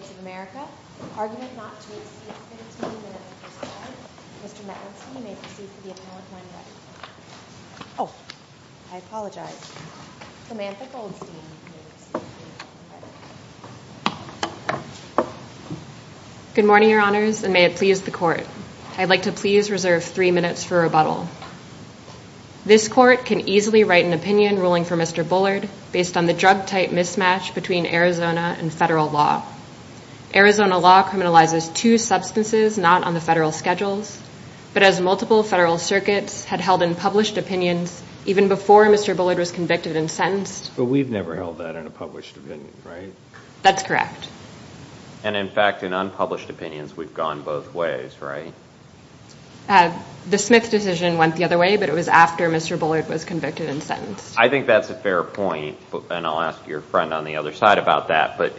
of America. Argument not to exceed 17 minutes per side. Mr. Metwinsky, you may proceed to the appellate line of writing. Oh, I apologize. Samantha Goldstein, you may proceed to the appellate line of writing. Good morning, Your Honors, and may it please the Court, I'd like to please reserve three minutes for rebuttal. This Court can easily write an opinion ruling for Mr. Bullard based on the drug-type mismatch between Arizona and federal law. Arizona law criminalizes two substances not on the federal schedules, but as multiple federal circuits had held in published opinions even before Mr. Bullard was convicted and sentenced. But we've never held that in a published opinion, right? That's correct. And in fact, in unpublished opinions, we've gone both ways, right? The Smith decision went the other way, but it was after Mr. Bullard was convicted and sentenced. I think that's a fair point, and I'll ask your friend on the other side about that, but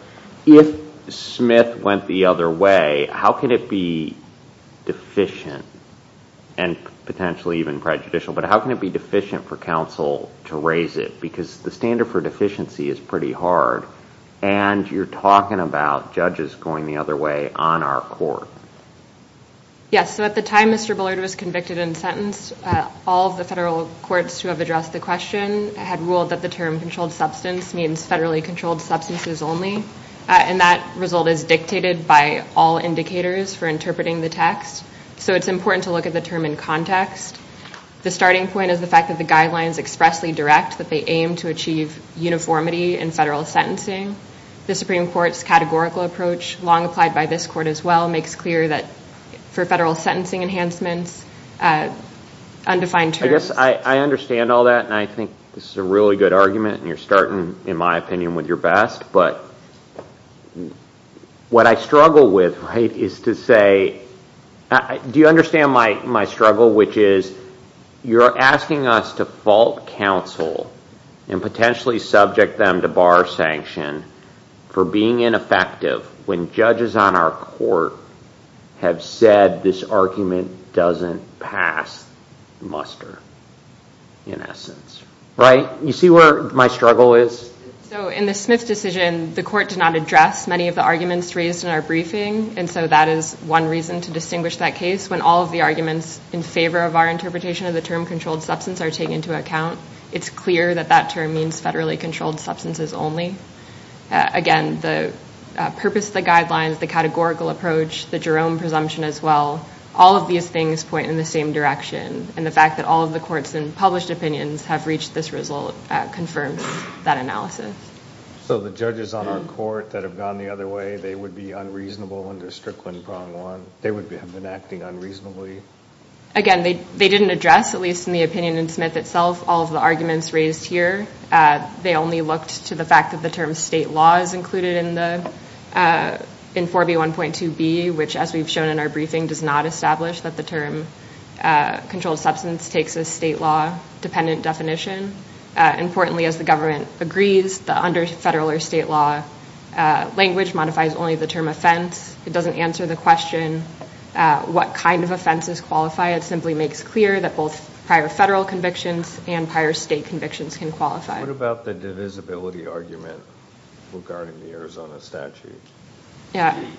if Smith went the other way, how can it be deficient and potentially even prejudicial, but how can it be deficient for counsel to raise it? Because the standard for deficiency is pretty hard, and you're talking about judges going the other way on our Court. Yes, so at the time Mr. Bullard was convicted and sentenced, all of the federal courts who have addressed the question had ruled that the term controlled substance means federally controlled substances only, and that result is dictated by all indicators for interpreting the text, so it's important to look at the term in context. The starting point is the fact that the guidelines expressly direct that they aim to achieve uniformity in federal sentencing. The Supreme Court's categorical approach, long applied by this Court as well, makes clear that for federal sentencing enhancements, undefined terms... I understand all that, and I think this is a really good argument, and you're starting, in my opinion, with your best, but what I struggle with, right, is to say, do you understand my struggle, which is you're asking us to fault counsel and potentially subject them to bar sanction for being ineffective when judges on our Court have said this argument doesn't pass muster, in essence, right? You see where my struggle is? In the Smith decision, the Court did not address many of the arguments raised in our briefing, and so that is one reason to distinguish that case. When all of the arguments in favor of our interpretation of the term controlled substance are taken into account, it's clear that that term means federally controlled substances only. Again, the purpose, the guidelines, the categorical approach, the Jerome presumption as well, all of these things point in the same direction, and the fact that all of the Courts in published opinions have reached this result confirms that analysis. So the judges on our Court that have gone the other way, they would be unreasonable under Strickland-Prong Law? They would have been acting unreasonably? Again, they didn't address, at least in the opinion in Smith itself, all of the arguments raised here. They only looked to the fact that the term state law is included in 4B1.2b, which as we've shown in our briefing, does not establish that the term controlled substance takes a state law-dependent definition. Importantly, as the government agrees, the under-federal or state law language modifies only the term offense. It doesn't answer the question what kind of offenses qualify. It simply makes clear that both prior federal convictions and prior state convictions can qualify. What about the divisibility argument regarding the Arizona statute?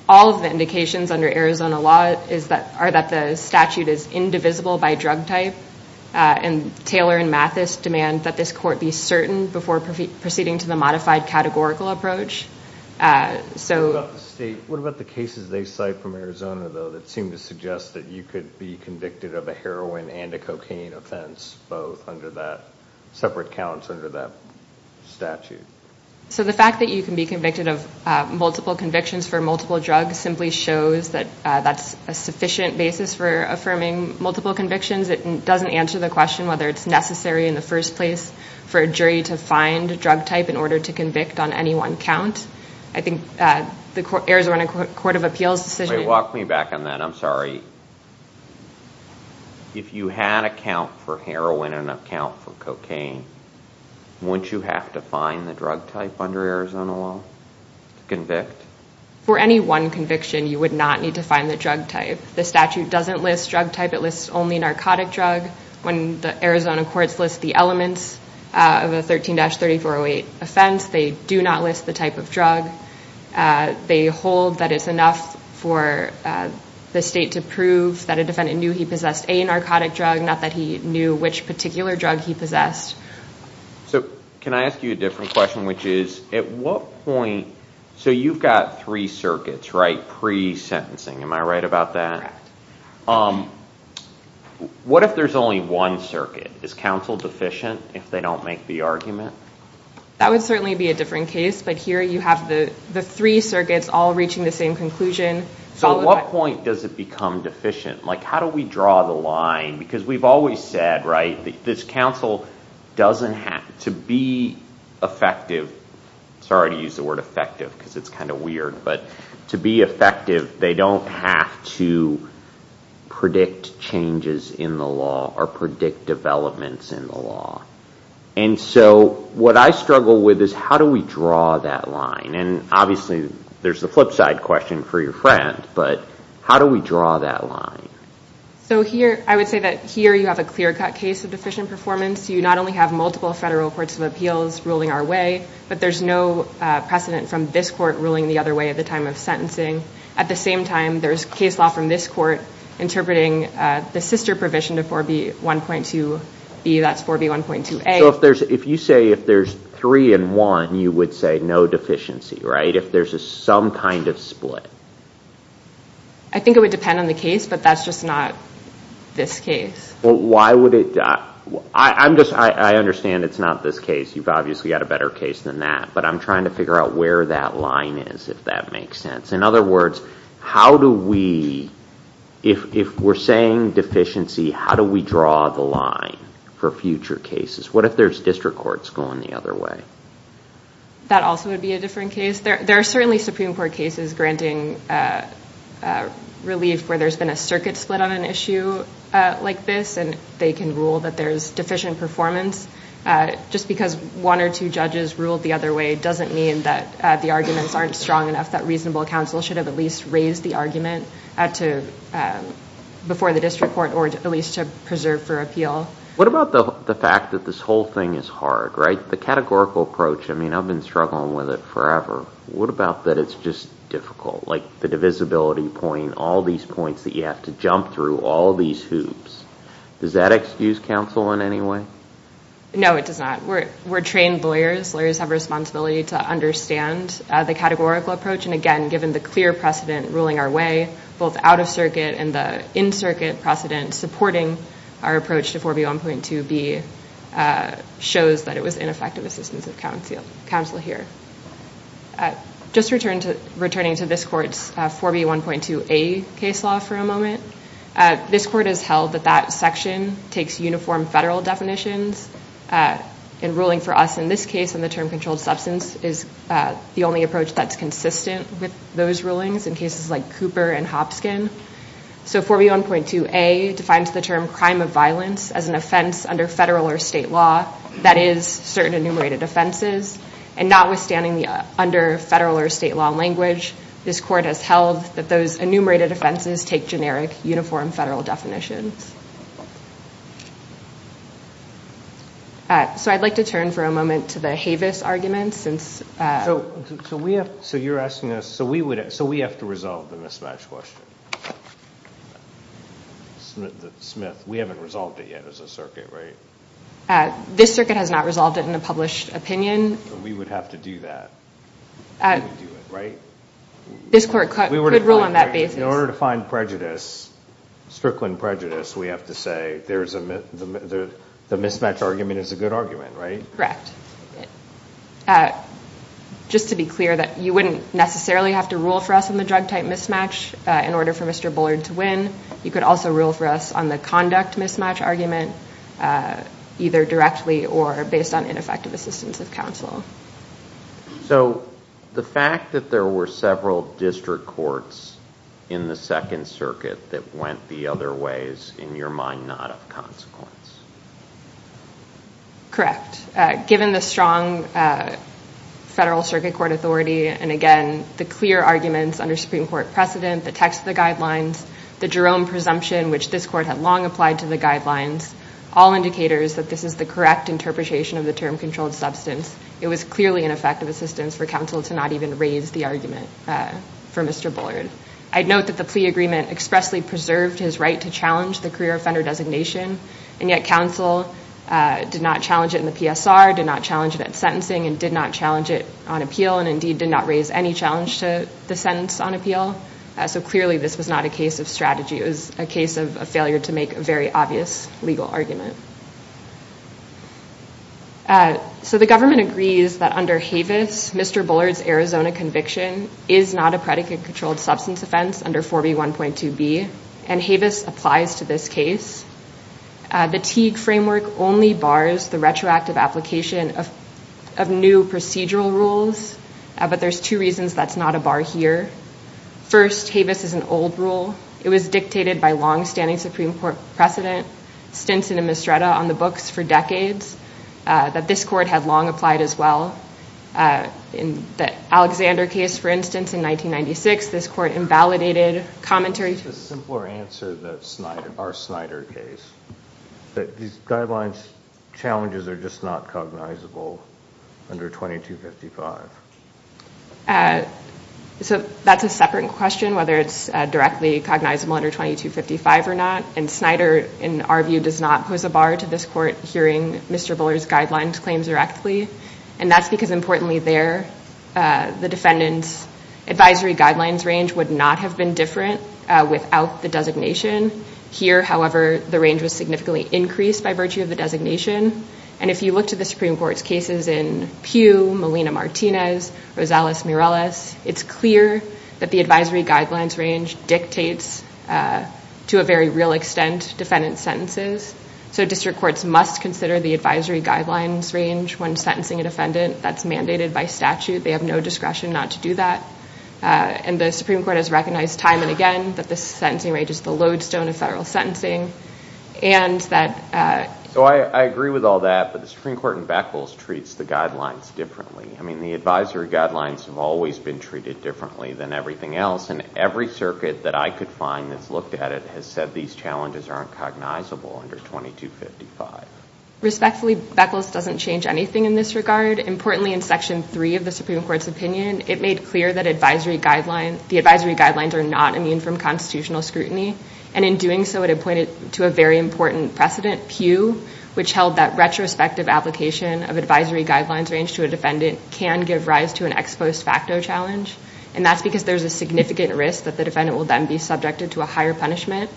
All of the indications under Arizona law are that the statute is indivisible by drug type, and Taylor and Mathis demand that this Court be certain before proceeding to the modified categorical approach. What about the cases they cite from Arizona, though, that seem to suggest that you could be convicted of a heroin and a cocaine offense, both under that separate counts under that statute? So the fact that you can be convicted of multiple convictions for multiple drugs simply shows that that's a sufficient basis for affirming multiple convictions. It doesn't answer the question whether it's necessary in the first place for a jury to find a drug type in order to convict on any one count. I think the Arizona Court of Appeals decision... Wait, walk me back on that. I'm sorry. If you had a count for heroin and a count for drug type under Arizona law to convict? For any one conviction, you would not need to find the drug type. The statute doesn't list drug type. It lists only narcotic drug. When the Arizona courts list the elements of a 13-3408 offense, they do not list the type of drug. They hold that it's enough for the state to prove that a defendant knew he possessed a narcotic drug, not that he knew which particular drug he possessed. So can I ask you a different question, which is, at what point... So you've got three circuits, right, pre-sentencing. Am I right about that? What if there's only one circuit? Is counsel deficient if they don't make the argument? That would certainly be a different case, but here you have the three circuits all reaching the same conclusion. So at what point does it become deficient? Like, how do we draw the line? Because we've always said, right, this counsel doesn't have to be effective. Sorry to use the word effective because it's kind of weird, but to be effective, they don't have to predict changes in the law or predict developments in the law. And so what I struggle with is, how do we draw that line? And obviously there's the flip side question for your friend, but how do we draw that line? So here, I would say that here you have a clear-cut case of deficient performance. You not only have multiple federal courts of appeals ruling our way, but there's no precedent from this court ruling the other way at the time of sentencing. At the same time, there's case law from this court interpreting the sister provision to 4B1.2B, that's 4B1.2A. So if you say if there's three and one, you would say no deficiency, right? If there's a some kind of split. I think it would depend on the case, but that's just not this case. Why would it? I understand it's not this case. You've obviously got a better case than that, but I'm trying to figure out where that line is, if that makes sense. In other words, how do we, if we're saying deficiency, how do we draw the line for future cases? What if there's district courts going the other way? That also would be a different case. There are certainly Supreme Court cases granting relief where there's been a circuit split on an issue like this, and they can rule that there's deficient performance. Just because one or two judges ruled the other way doesn't mean that the arguments aren't strong enough, that reasonable counsel should have at least raised the argument before the district court or at least to preserve for appeal. What about the fact that this whole thing is hard, right? The categorical approach, I mean, I've been struggling with it forever. What about that it's just difficult, like the divisibility point, all these points that you have to jump through, all these hoops. Does that excuse counsel in any way? No, it does not. We're trained lawyers. Lawyers have responsibility to understand the categorical approach, and again, given the clear precedent ruling our way, both out of circuit and the 4B1.2B shows that it was ineffective assistance of counsel here. Just returning to this court's 4B1.2A case law for a moment, this court has held that that section takes uniform federal definitions, and ruling for us in this case on the term controlled substance is the only approach that's consistent with those rulings in cases like Cooper and Hopskin. So 4B1.2A defines the term crime of violence as an offense under federal or state law that is certain enumerated offenses, and notwithstanding the under federal or state law language, this court has held that those enumerated offenses take generic uniform federal definitions. So I'd like to turn for a moment to the Havis argument since... So you're asking us, so we have to resolve the mismatch question. Smith, we haven't resolved it yet as a circuit, right? This circuit has not resolved it in a published opinion. We would have to do that, right? This court could rule on that basis. In order to find prejudice, Strickland prejudice, we have to say the mismatch argument is a good argument, right? Correct. Just to be clear that you wouldn't necessarily have to rule for us on the drug type mismatch in order for Mr. Bullard to win. You could also rule for us on the conduct mismatch argument, either directly or based on ineffective assistance of counsel. So the fact that there were several district courts in the Second Circuit that went the other ways, in your mind, not of consequence? Correct. Given the strong federal circuit court authority, and again, the clear arguments under Supreme Court precedent, the text of the guidelines, the Jerome presumption, which this court had long applied to the guidelines, all indicators that this is the correct interpretation of the term controlled substance. It was clearly ineffective assistance for counsel to not even raise the argument for Mr. Bullard. I'd note that the plea agreement expressly preserved his right to challenge the career and yet counsel did not challenge it in the PSR, did not challenge it at sentencing, and did not challenge it on appeal, and indeed did not raise any challenge to the sentence on appeal. So clearly this was not a case of strategy, it was a case of a failure to make a very obvious legal argument. So the government agrees that under Havis, Mr. Bullard's Arizona conviction is not a predicate controlled substance offense under 4B1.2b, and Havis applies to this case. The Teague framework only bars the retroactive application of new procedural rules, but there's two reasons that's not a bar here. First, Havis is an old rule. It was dictated by long-standing Supreme Court precedent, Stinson and Mistretta, on the books for decades, that this court had long applied as well. In the Alexander case, for instance, in 1996, this court invalidated commentary- Just a simpler answer, our Snyder case, that these guidelines challenges are just not cognizable under 2255. So that's a separate question, whether it's directly cognizable under 2255 or not. And Snyder, in our view, does not pose a bar to this court hearing Mr. Bullard's guidelines claims directly. And that's because, importantly there, the defendant's advisory guidelines range would not have been different without the designation. Here, however, the range was significantly increased by virtue of the designation. And if you look to the Supreme Court's cases in Pugh, Molina-Martinez, Rosales-Mireles, it's clear that the advisory guidelines range dictates, to a very real extent, defendant's sentences. So district courts must consider the advisory guidelines range when sentencing a defendant. That's mandated by statute. They have no discretion not to do that. And the Supreme Court has recognized time and again that this sentencing range is the lodestone of federal sentencing. And that- So I agree with all that, but the Supreme Court in Beckles treats the guidelines differently. I mean, the advisory guidelines have always been treated differently than everything else. And every circuit that I could find that's looked at it has said these challenges aren't cognizable under 2255. Respectfully, Beckles doesn't change anything in this regard. Importantly, in Section 3 of the Supreme Court's opinion, it made clear that the advisory guidelines are not immune from constitutional scrutiny. And in doing so, it had pointed to a very important precedent, Pugh, which held that retrospective application of advisory guidelines range to a defendant can give rise to an ex post facto challenge. And that's because there's a significant risk that the defendant will then be subjected to a higher punishment.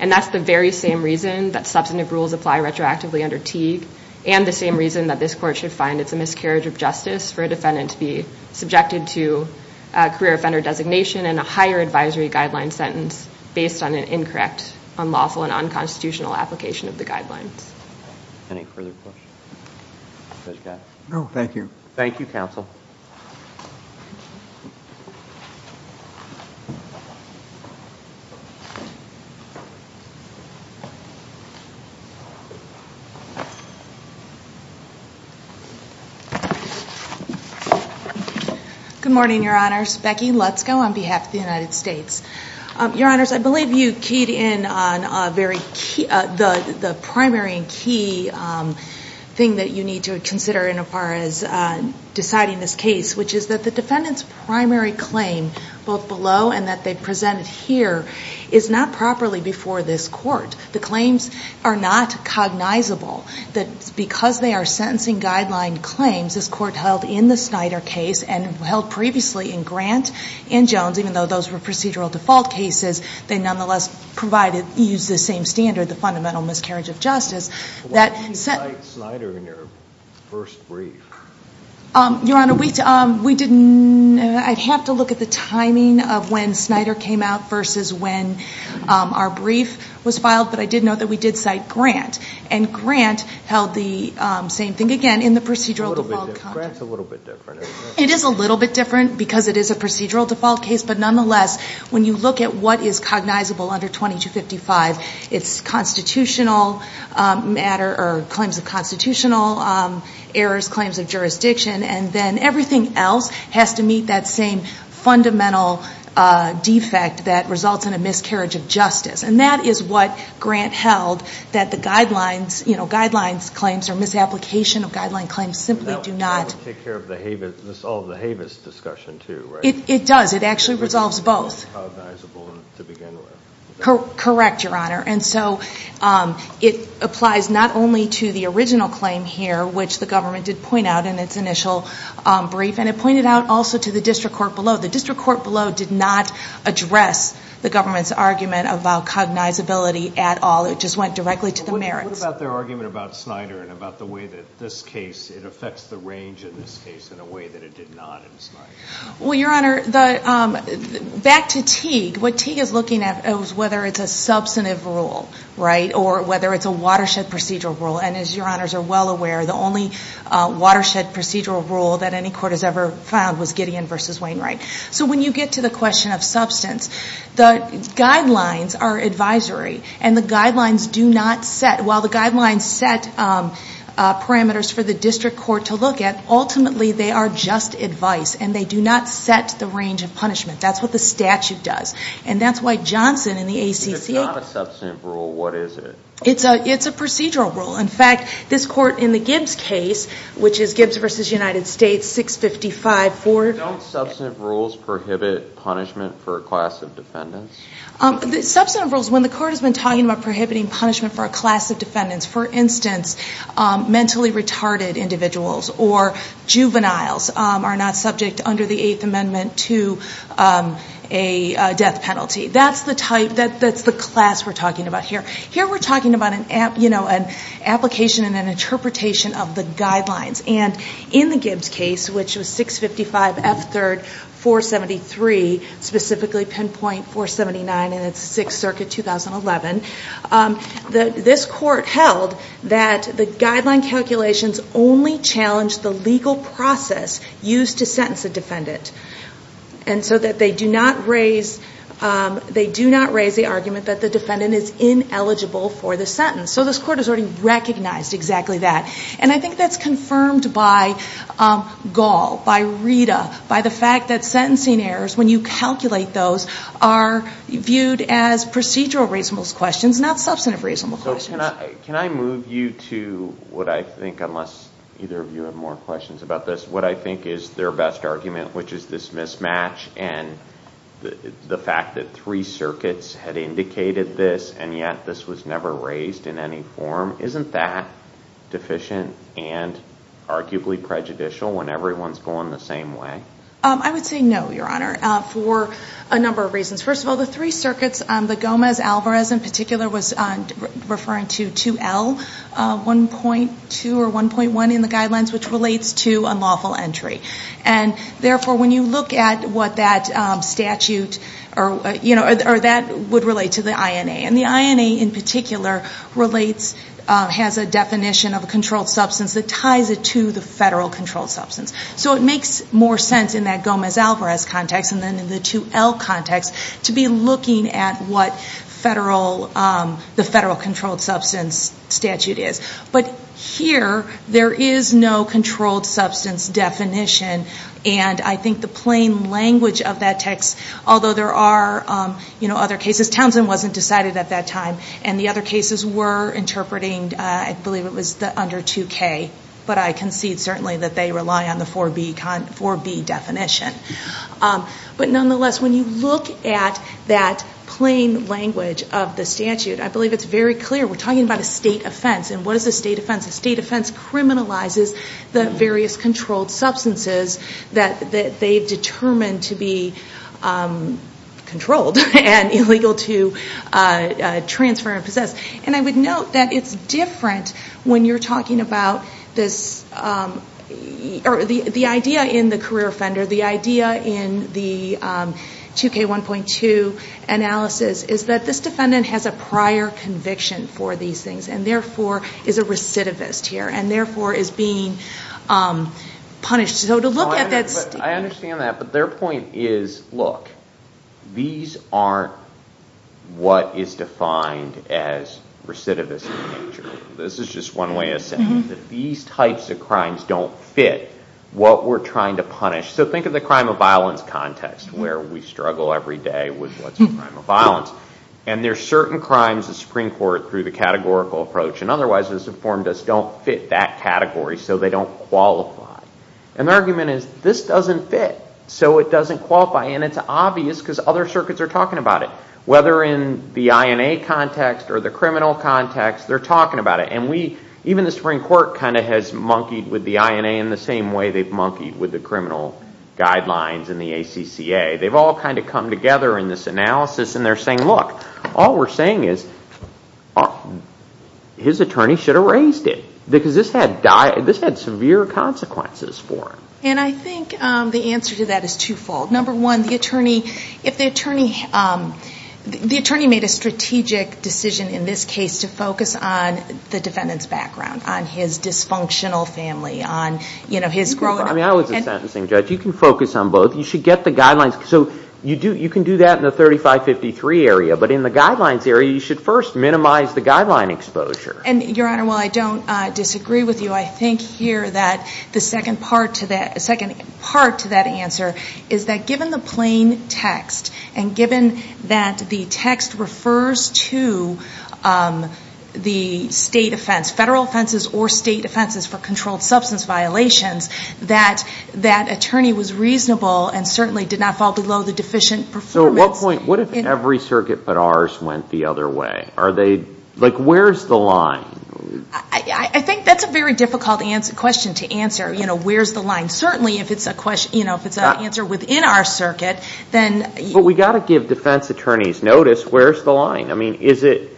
And that's the very same reason that substantive rules apply retroactively under Teague, and the same reason that this court should find it's a miscarriage of justice for a defendant to be subjected to a career offender designation and a higher advisory guideline sentence based on an incorrect, unlawful, and unconstitutional application of the guidelines. Any further questions? Judge Katz? No. Thank you. Thank you, counsel. Good morning, your honors. Becky Lutzko on behalf of the United States. Your honors, I believe you keyed in on the primary and key thing that you need to consider in as far as deciding this case, which is that the defendant's primary claim, both below and that they've presented here, is not properly before this court. The claims are not cognizable. That because they are sentencing guideline claims, this court held in the Snyder case and held previously in Grant and Jones, even though those were procedural default cases, they nonetheless provided, used the same standard, the fundamental miscarriage of justice. Why did you cite Snyder in your first brief? Your honor, we didn't, I'd have to look at the timing of when Snyder came out versus when our brief was filed, but I did note that we did cite Grant. And Grant held the same thing again in the procedural default. A little bit different. Grant's a little bit different. It is a little bit different because it is a procedural default case, but nonetheless, when you look at what is cognizable under 2255, it's constitutional matter or claims of constitutional errors, claims of jurisdiction, and then everything else has to meet that same fundamental defect that results in a miscarriage of justice. And that is what Grant held, that the guidelines, you know, guidelines claims or misapplication of guideline claims simply do not. That would take care of the Havis, all of the Havis discussion too, right? It does. It does. It actually resolves both. Cognizable to begin with. Correct, your honor. And so, it applies not only to the original claim here, which the government did point out in its initial brief, and it pointed out also to the district court below. The district court below did not address the government's argument about cognizability at all. It just went directly to the merits. What about their argument about Snyder and about the way that this case, it affects the range in this case in a way that it did not in Snyder? Well, your honor, back to Teague. What Teague is looking at is whether it's a substantive rule, right, or whether it's a watershed procedural rule. And as your honors are well aware, the only watershed procedural rule that any court has ever found was Gideon v. Wainwright. So when you get to the question of substance, the guidelines are advisory. And the guidelines do not set, while the guidelines set parameters for the district court to look at, ultimately they are just advice. And they do not set the range of punishment. That's what the statute does. And that's why Johnson in the ACC- If it's not a substantive rule, what is it? It's a procedural rule. In fact, this court in the Gibbs case, which is Gibbs v. United States, 655-4- Don't substantive rules prohibit punishment for a class of defendants? Substantive rules, when the court has been talking about prohibiting punishment for a class of defendants, mentally retarded individuals or juveniles are not subject under the Eighth Amendment to a death penalty. That's the type, that's the class we're talking about here. Here we're talking about an application and an interpretation of the guidelines. And in the Gibbs case, which was 655-F-3-473, specifically pinpoint 479, and it's Sixth Amendment, the guideline calculations only challenge the legal process used to sentence a defendant. And so that they do not raise the argument that the defendant is ineligible for the sentence. So this court has already recognized exactly that. And I think that's confirmed by Gall, by Rita, by the fact that sentencing errors, when you calculate those, are viewed as procedural reasonable questions, not substantive reasonable questions. Can I move you to what I think, unless either of you have more questions about this, what I think is their best argument, which is this mismatch and the fact that three circuits had indicated this and yet this was never raised in any form. Isn't that deficient and arguably prejudicial when everyone's going the same way? I would say no, Your Honor, for a number of reasons. First of all, the three circuits, the Gomez-Alvarez in particular was referring to 2L, 1.2 or 1.1 in the guidelines, which relates to unlawful entry. And therefore, when you look at what that statute, or that would relate to the INA. And the INA in particular relates, has a definition of a controlled substance that ties it to the federal controlled substance. So it makes more sense in that Gomez-Alvarez context and then in the 2L context to be looking at what the federal controlled substance statute is. But here, there is no controlled substance definition and I think the plain language of that text, although there are other cases, Townsend wasn't decided at that time and the other cases were interpreting, I believe it was the under 2K, but I concede certainly that they rely on the 4B definition. But nonetheless, when you look at that plain language of the statute, I believe it's very clear. We're talking about a state offense. And what is a state offense? A state offense criminalizes the various controlled substances that they've determined to be controlled and illegal to transfer and possess. And I would note that it's different when you're talking about this, or the idea in the career offender, the idea in the 2K1.2 analysis, is that this defendant has a prior conviction for these things and therefore is a recidivist here and therefore is being punished. So to look at that state... This is just one way of saying that these types of crimes don't fit what we're trying to punish. So think of the crime of violence context, where we struggle every day with what's a crime of violence. And there's certain crimes the Supreme Court, through the categorical approach and otherwise has informed us, don't fit that category, so they don't qualify. And the argument is, this doesn't fit, so it doesn't qualify. And it's obvious because other circuits are talking about it. Whether in the INA context or the criminal context, they're talking about it. And even the Supreme Court kind of has monkeyed with the INA in the same way they've monkeyed with the criminal guidelines and the ACCA. They've all kind of come together in this analysis and they're saying, look, all we're saying is, his attorney should have raised it, because this had severe consequences for him. And I think the answer to that is twofold. Number one, the attorney, if the attorney, the attorney made a strategic decision in this case to focus on the defendant's background, on his dysfunctional family, on his growing up. I mean, I was a sentencing judge. You can focus on both. You should get the guidelines. So you can do that in the 3553 area. But in the guidelines area, you should first minimize the guideline exposure. And Your Honor, while I don't disagree with you, I think here that the second part to that answer is that given the plain text and given that the text refers to the state offense, federal offenses or state offenses for controlled substance violations, that attorney was reasonable and certainly did not fall below the deficient performance. So at what point, what if every circuit but ours went the other way? Are they, like, where's the line? I think that's a very difficult question to answer, you know, where's the line. And certainly if it's a question, you know, if it's an answer within our circuit, then But we've got to give defense attorneys notice, where's the line? I mean, is it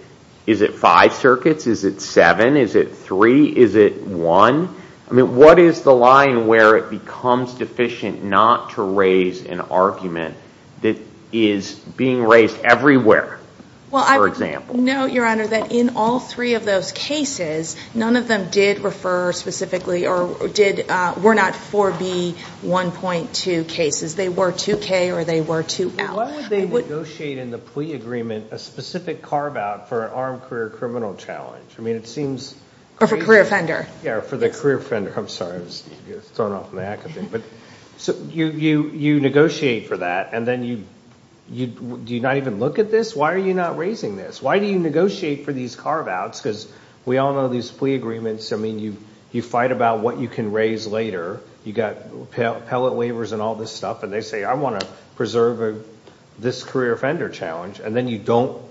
five circuits? Is it seven? Is it three? Is it one? I mean, what is the line where it becomes deficient not to raise an argument that is being raised everywhere, for example? Well, I would note, Your Honor, that in all three of those cases, none of them did refer specifically or were not 4B1.2 cases. They were 2K or they were 2L. Why would they negotiate in the plea agreement a specific carve-out for an armed career criminal challenge? I mean, it seems Or for career offender. Yeah, or for the career offender. I'm sorry. I was thrown off my act, I think. So you negotiate for that, and then you, do you not even look at this? Why are you not raising this? Why do you negotiate for these carve-outs? Because we all know these plea agreements, I mean, you fight about what you can raise later. You've got appellate waivers and all this stuff, and they say, I want to preserve this career offender challenge, and then you don't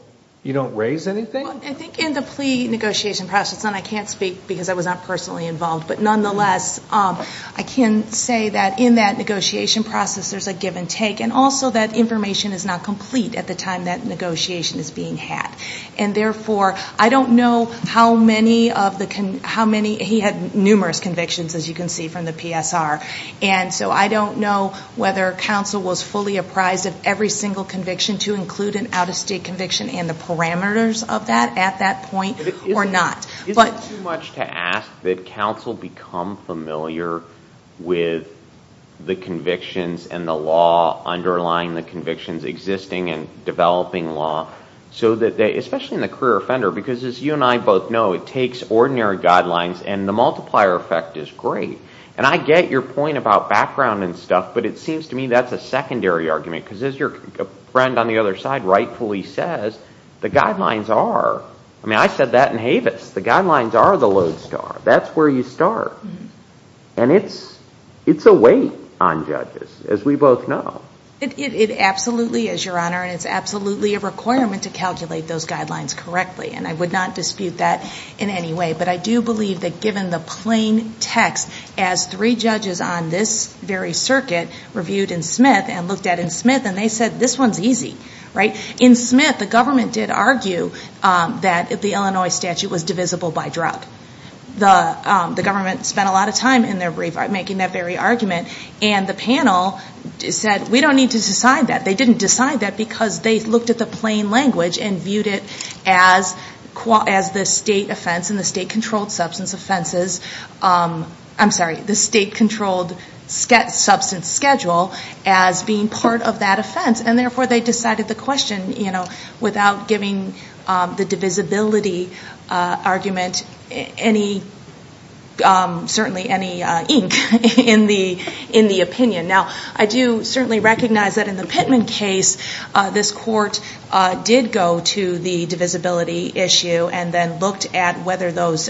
raise anything? I think in the plea negotiation process, and I can't speak because I was not personally involved, but nonetheless, I can say that in that negotiation process, there's a give and take, and also that information is not complete at the time that negotiation is being had. And therefore, I don't know how many of the, how many, he had numerous convictions, as you can see from the PSR, and so I don't know whether counsel was fully apprised of every single conviction to include an out-of-state conviction and the parameters of that at that point, or not. Isn't it too much to ask that counsel become familiar with the convictions and the law especially in the career offender? Because as you and I both know, it takes ordinary guidelines, and the multiplier effect is great. And I get your point about background and stuff, but it seems to me that's a secondary argument because as your friend on the other side rightfully says, the guidelines are, I mean, I said that in Havis, the guidelines are the lodestar. That's where you start. And it's a weight on judges, as we both know. It absolutely is, Your Honor, and it's absolutely a requirement to calculate those guidelines correctly, and I would not dispute that in any way. But I do believe that given the plain text, as three judges on this very circuit reviewed in Smith and looked at in Smith, and they said, this one's easy, right? In Smith, the government did argue that the Illinois statute was divisible by drug. The government spent a lot of time in their brief making that very argument, and the government said, we don't need to decide that. They didn't decide that because they looked at the plain language and viewed it as the state offense and the state-controlled substance offenses, I'm sorry, the state-controlled substance schedule as being part of that offense. And therefore, they decided the question without giving the divisibility argument any, certainly any ink in the opinion. Now, I do certainly recognize that in the Pittman case, this court did go to the divisibility issue and then looked at whether those,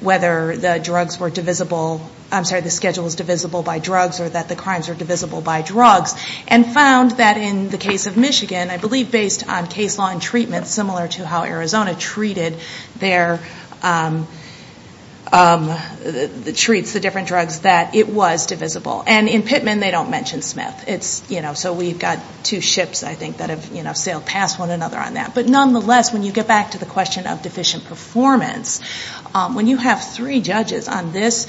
whether the drugs were divisible, I'm sorry, the schedule was divisible by drugs or that the crimes were divisible by drugs, and found that in the case of Michigan, I believe based on case law and treatment, similar to how Arizona treated their, treats the different drugs, that it was divisible. And in Pittman, they don't mention Smith. It's, you know, so we've got two ships, I think, that have, you know, sailed past one another on that. But nonetheless, when you get back to the question of deficient performance, when you have three judges on this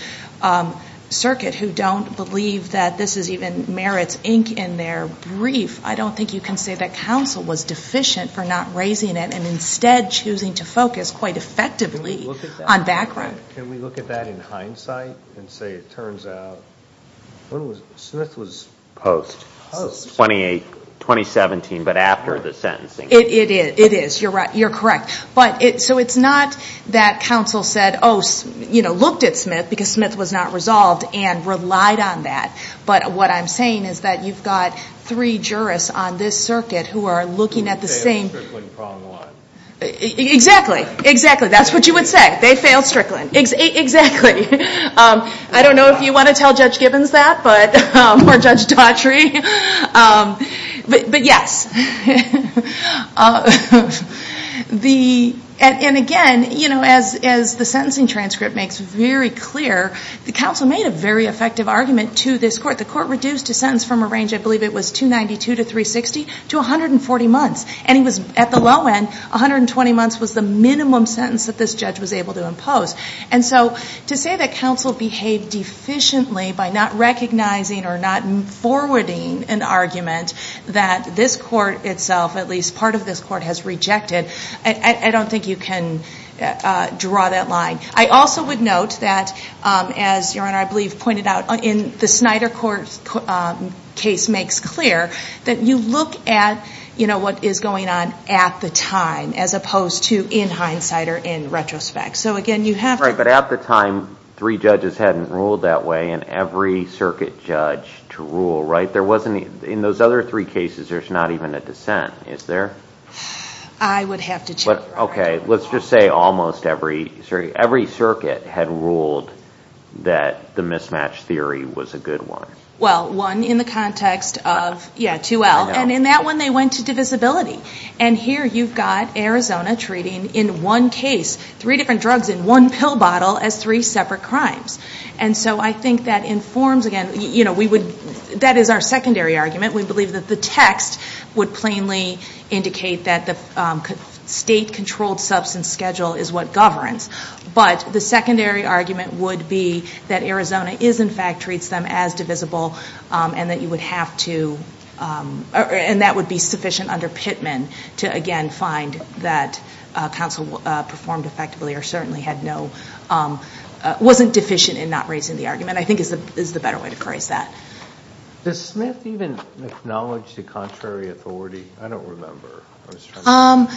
circuit who don't believe that this is even merits ink in their brief, I don't think you can say that counsel was deficient for not raising it and instead choosing to focus quite effectively on background. Can we look at that in hindsight and say it turns out, when was, Smith was post? Post. Twenty-eight, twenty-seventeen, but after the sentencing. It is. It is. You're right. You're correct. But it, so it's not that counsel said, oh, you know, looked at Smith because Smith was not resolved and relied on that. But what I'm saying is that you've got three jurists on this circuit who are looking at the same. They failed Strickland prong one. Exactly. Exactly. That's what you would say. Yeah. They failed Strickland. Exactly. I don't know if you want to tell Judge Gibbons that, but, or Judge Daughtry, but, but yes. The, and again, you know, as, as the sentencing transcript makes very clear, the counsel made a very effective argument to this court. The court reduced a sentence from a range, I believe it was 292 to 360, to 140 months. And he was at the low end, 120 months was the minimum sentence that this judge was able to impose. And so to say that counsel behaved deficiently by not recognizing or not forwarding an argument that this court itself, at least part of this court has rejected. I don't think you can draw that line. I also would note that as your Honor, I believe pointed out in the Snyder court case makes clear that you look at, you know, what is going on at the time, as opposed to in hindsight or in retrospect. So again, you have to. Right. But at the time, three judges hadn't ruled that way and every circuit judge to rule, right? There wasn't, in those other three cases, there's not even a dissent, is there? I would have to check. Okay. Let's just say almost every, every circuit had ruled that the mismatch theory was a good one. Well, one in the context of, yeah, 2L and in that one they went to divisibility. And here you've got Arizona treating in one case, three different drugs in one pill bottle as three separate crimes. And so I think that informs again, you know, we would, that is our secondary argument. We believe that the text would plainly indicate that the state controlled substance schedule is what governs. But the secondary argument would be that Arizona is in fact treats them as divisible and that you would have to, and that would be sufficient under Pittman to again find that counsel performed effectively or certainly had no, wasn't deficient in not raising the argument, I think is the better way to phrase that. Does Smith even acknowledge the contrary authority? I don't remember. I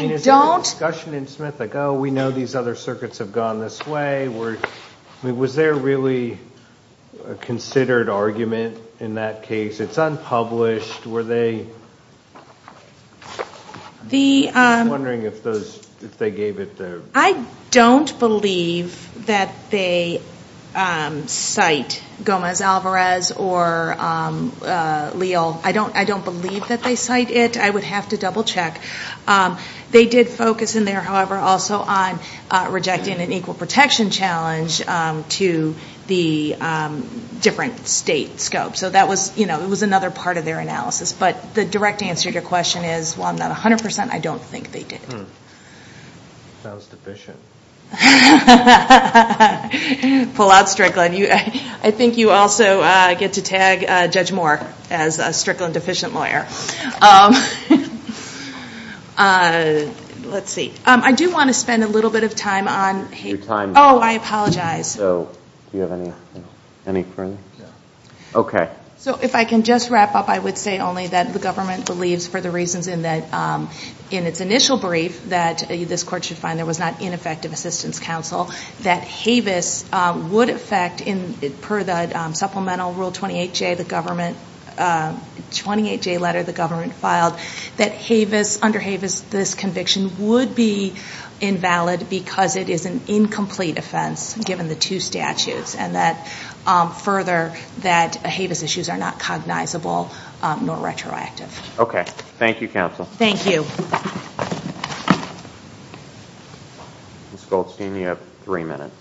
don't. Was there a discussion in Smith like, oh, we know these other circuits have gone this way? Were, I mean, was there really a considered argument in that case? It's unpublished. Were they, I'm wondering if those, if they gave it the. I don't believe that they cite Gomez-Alvarez or Leal. I don't, I don't believe that they cite it. I would have to double check. They did focus in there, however, also on rejecting an equal protection challenge to the different state scope. So that was, you know, it was another part of their analysis. But the direct answer to your question is, while I'm not 100 percent, I don't think they did. Sounds deficient. Pull out Strickland. I think you also get to tag Judge Moore as a Strickland deficient lawyer. Let's see. I do want to spend a little bit of time on. Your time. Oh, I apologize. So, do you have any, any further? Yeah. Okay. So if I can just wrap up, I would say only that the government believes, for the reasons in that, in its initial brief, that this court should find there was not ineffective assistance counsel. That Havis would affect, per the supplemental Rule 28J, the government, 28J letter the government filed, that Havis, under Havis, this conviction would be invalid because it is an incomplete offense given the two statutes. And that, further, that Havis issues are not cognizable nor retroactive. Okay. Thank you, counsel. Thank you. Ms. Goldstein, you have three minutes.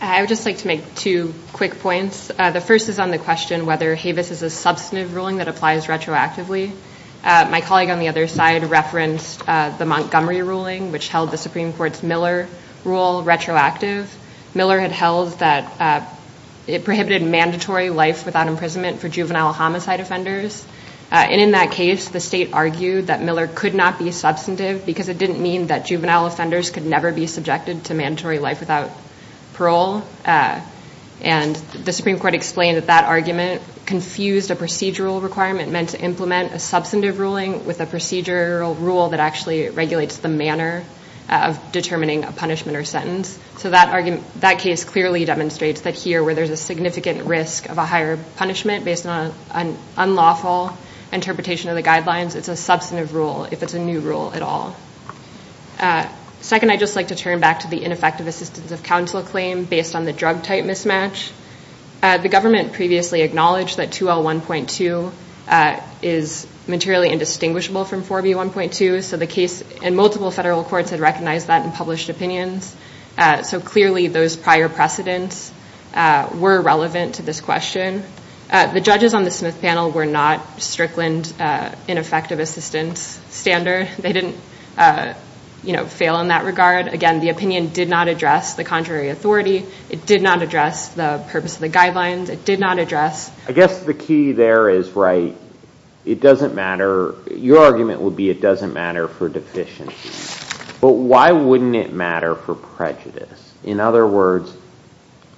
I would just like to make two quick points. The first is on the question whether Havis is a substantive ruling that applies retroactively. My colleague on the other side referenced the Montgomery ruling, which held the Supreme Court's Miller rule retroactive. Miller had held that it prohibited mandatory life without imprisonment for juvenile homicide offenders. And in that case, the state argued that Miller could not be substantive because it didn't mean that juvenile offenders could never be subjected to mandatory life without parole. And the Supreme Court explained that that argument confused a procedural requirement meant to implement a substantive ruling with a procedural rule that actually regulates the manner of determining a punishment or sentence. So that argument, that case clearly demonstrates that here, where there's a significant risk of a higher punishment based on an unlawful interpretation of the guidelines, it's a substantive rule if it's a new rule at all. Second, I'd just like to turn back to the ineffective assistance of counsel claim based on the drug type mismatch. The government previously acknowledged that 2L1.2 is materially indistinguishable from 4B1.2. So the case in multiple federal courts had recognized that in published opinions. So clearly, those prior precedents were relevant to this question. The judges on the Smith panel were not Strickland ineffective assistance standard. They didn't fail in that regard. Again, the opinion did not address the contrary authority. It did not address the purpose of the guidelines. It did not address- I guess the key there is right. It doesn't matter. Your argument would be it doesn't matter for deficiency. But why wouldn't it matter for prejudice? In other words,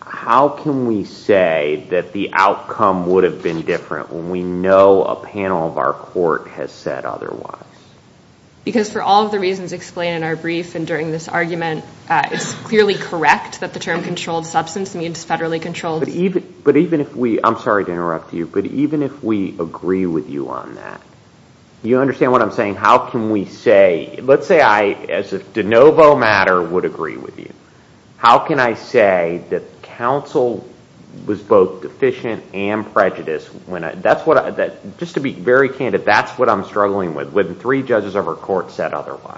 how can we say that the outcome would have been different when we know a panel of our court has said otherwise? Because for all of the reasons explained in our brief and during this argument, it's clearly correct that the term controlled substance means federally controlled- But even if we- I'm sorry to interrupt you, but even if we agree with you on that, you understand what I'm saying? How can we say- Let's say I, as if de novo matter, would agree with you. How can I say that counsel was both deficient and prejudiced when I- That's what I- Just to be very candid, that's what I'm struggling with, when three judges of our court said otherwise.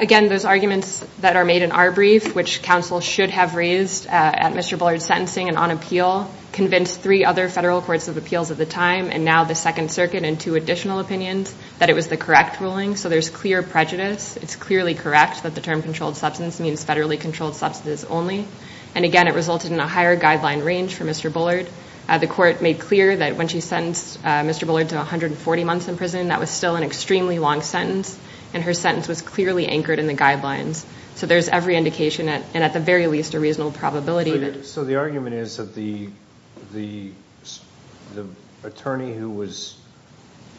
Again, those arguments that are made in our brief, which counsel should have raised at Mr. Bullard's sentencing and on appeal, convinced three other federal courts of appeals at the it was the correct ruling, so there's clear prejudice. It's clearly correct that the term controlled substance means federally controlled substances only. And again, it resulted in a higher guideline range for Mr. Bullard. The court made clear that when she sentenced Mr. Bullard to 140 months in prison, that was still an extremely long sentence, and her sentence was clearly anchored in the guidelines. So there's every indication, and at the very least, a reasonable probability that- So the argument is that the attorney who was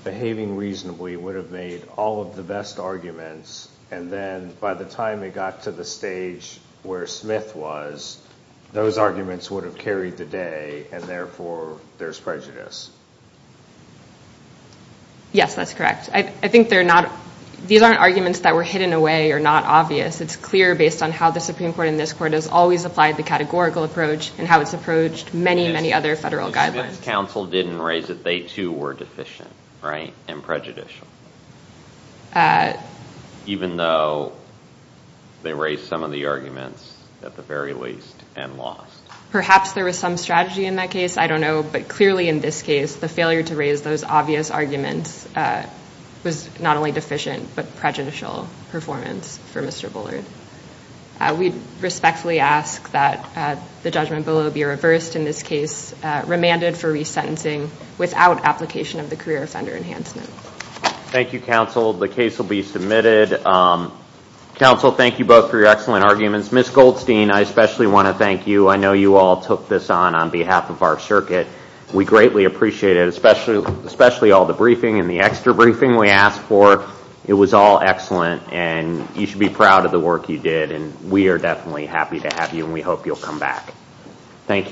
behaving reasonably would have made all of the best arguments, and then by the time it got to the stage where Smith was, those arguments would have carried the day, and therefore, there's prejudice. Yes, that's correct. I think they're not- These aren't arguments that were hidden away or not obvious. It's clear based on how the Supreme Court and this court has always applied the categorical approach and how it's approached many, many other federal guidelines. Yes, but Smith's counsel didn't raise that they, too, were deficient, right, and prejudicial. Even though they raised some of the arguments, at the very least, and lost. Perhaps there was some strategy in that case, I don't know, but clearly in this case, the failure to raise those obvious arguments was not only deficient, but prejudicial performance for Mr. Bullard. We respectfully ask that the judgment below be reversed in this case, remanded for resentencing without application of the career offender enhancement. Thank you, counsel. The case will be submitted. Counsel, thank you both for your excellent arguments. Ms. Goldstein, I especially want to thank you. I know you all took this on on behalf of our circuit. We greatly appreciate it, especially all the briefing and the extra briefing we asked for. It was all excellent, and you should be proud of the work you did, and we are definitely happy to have you, and we hope you'll come back. Thank you.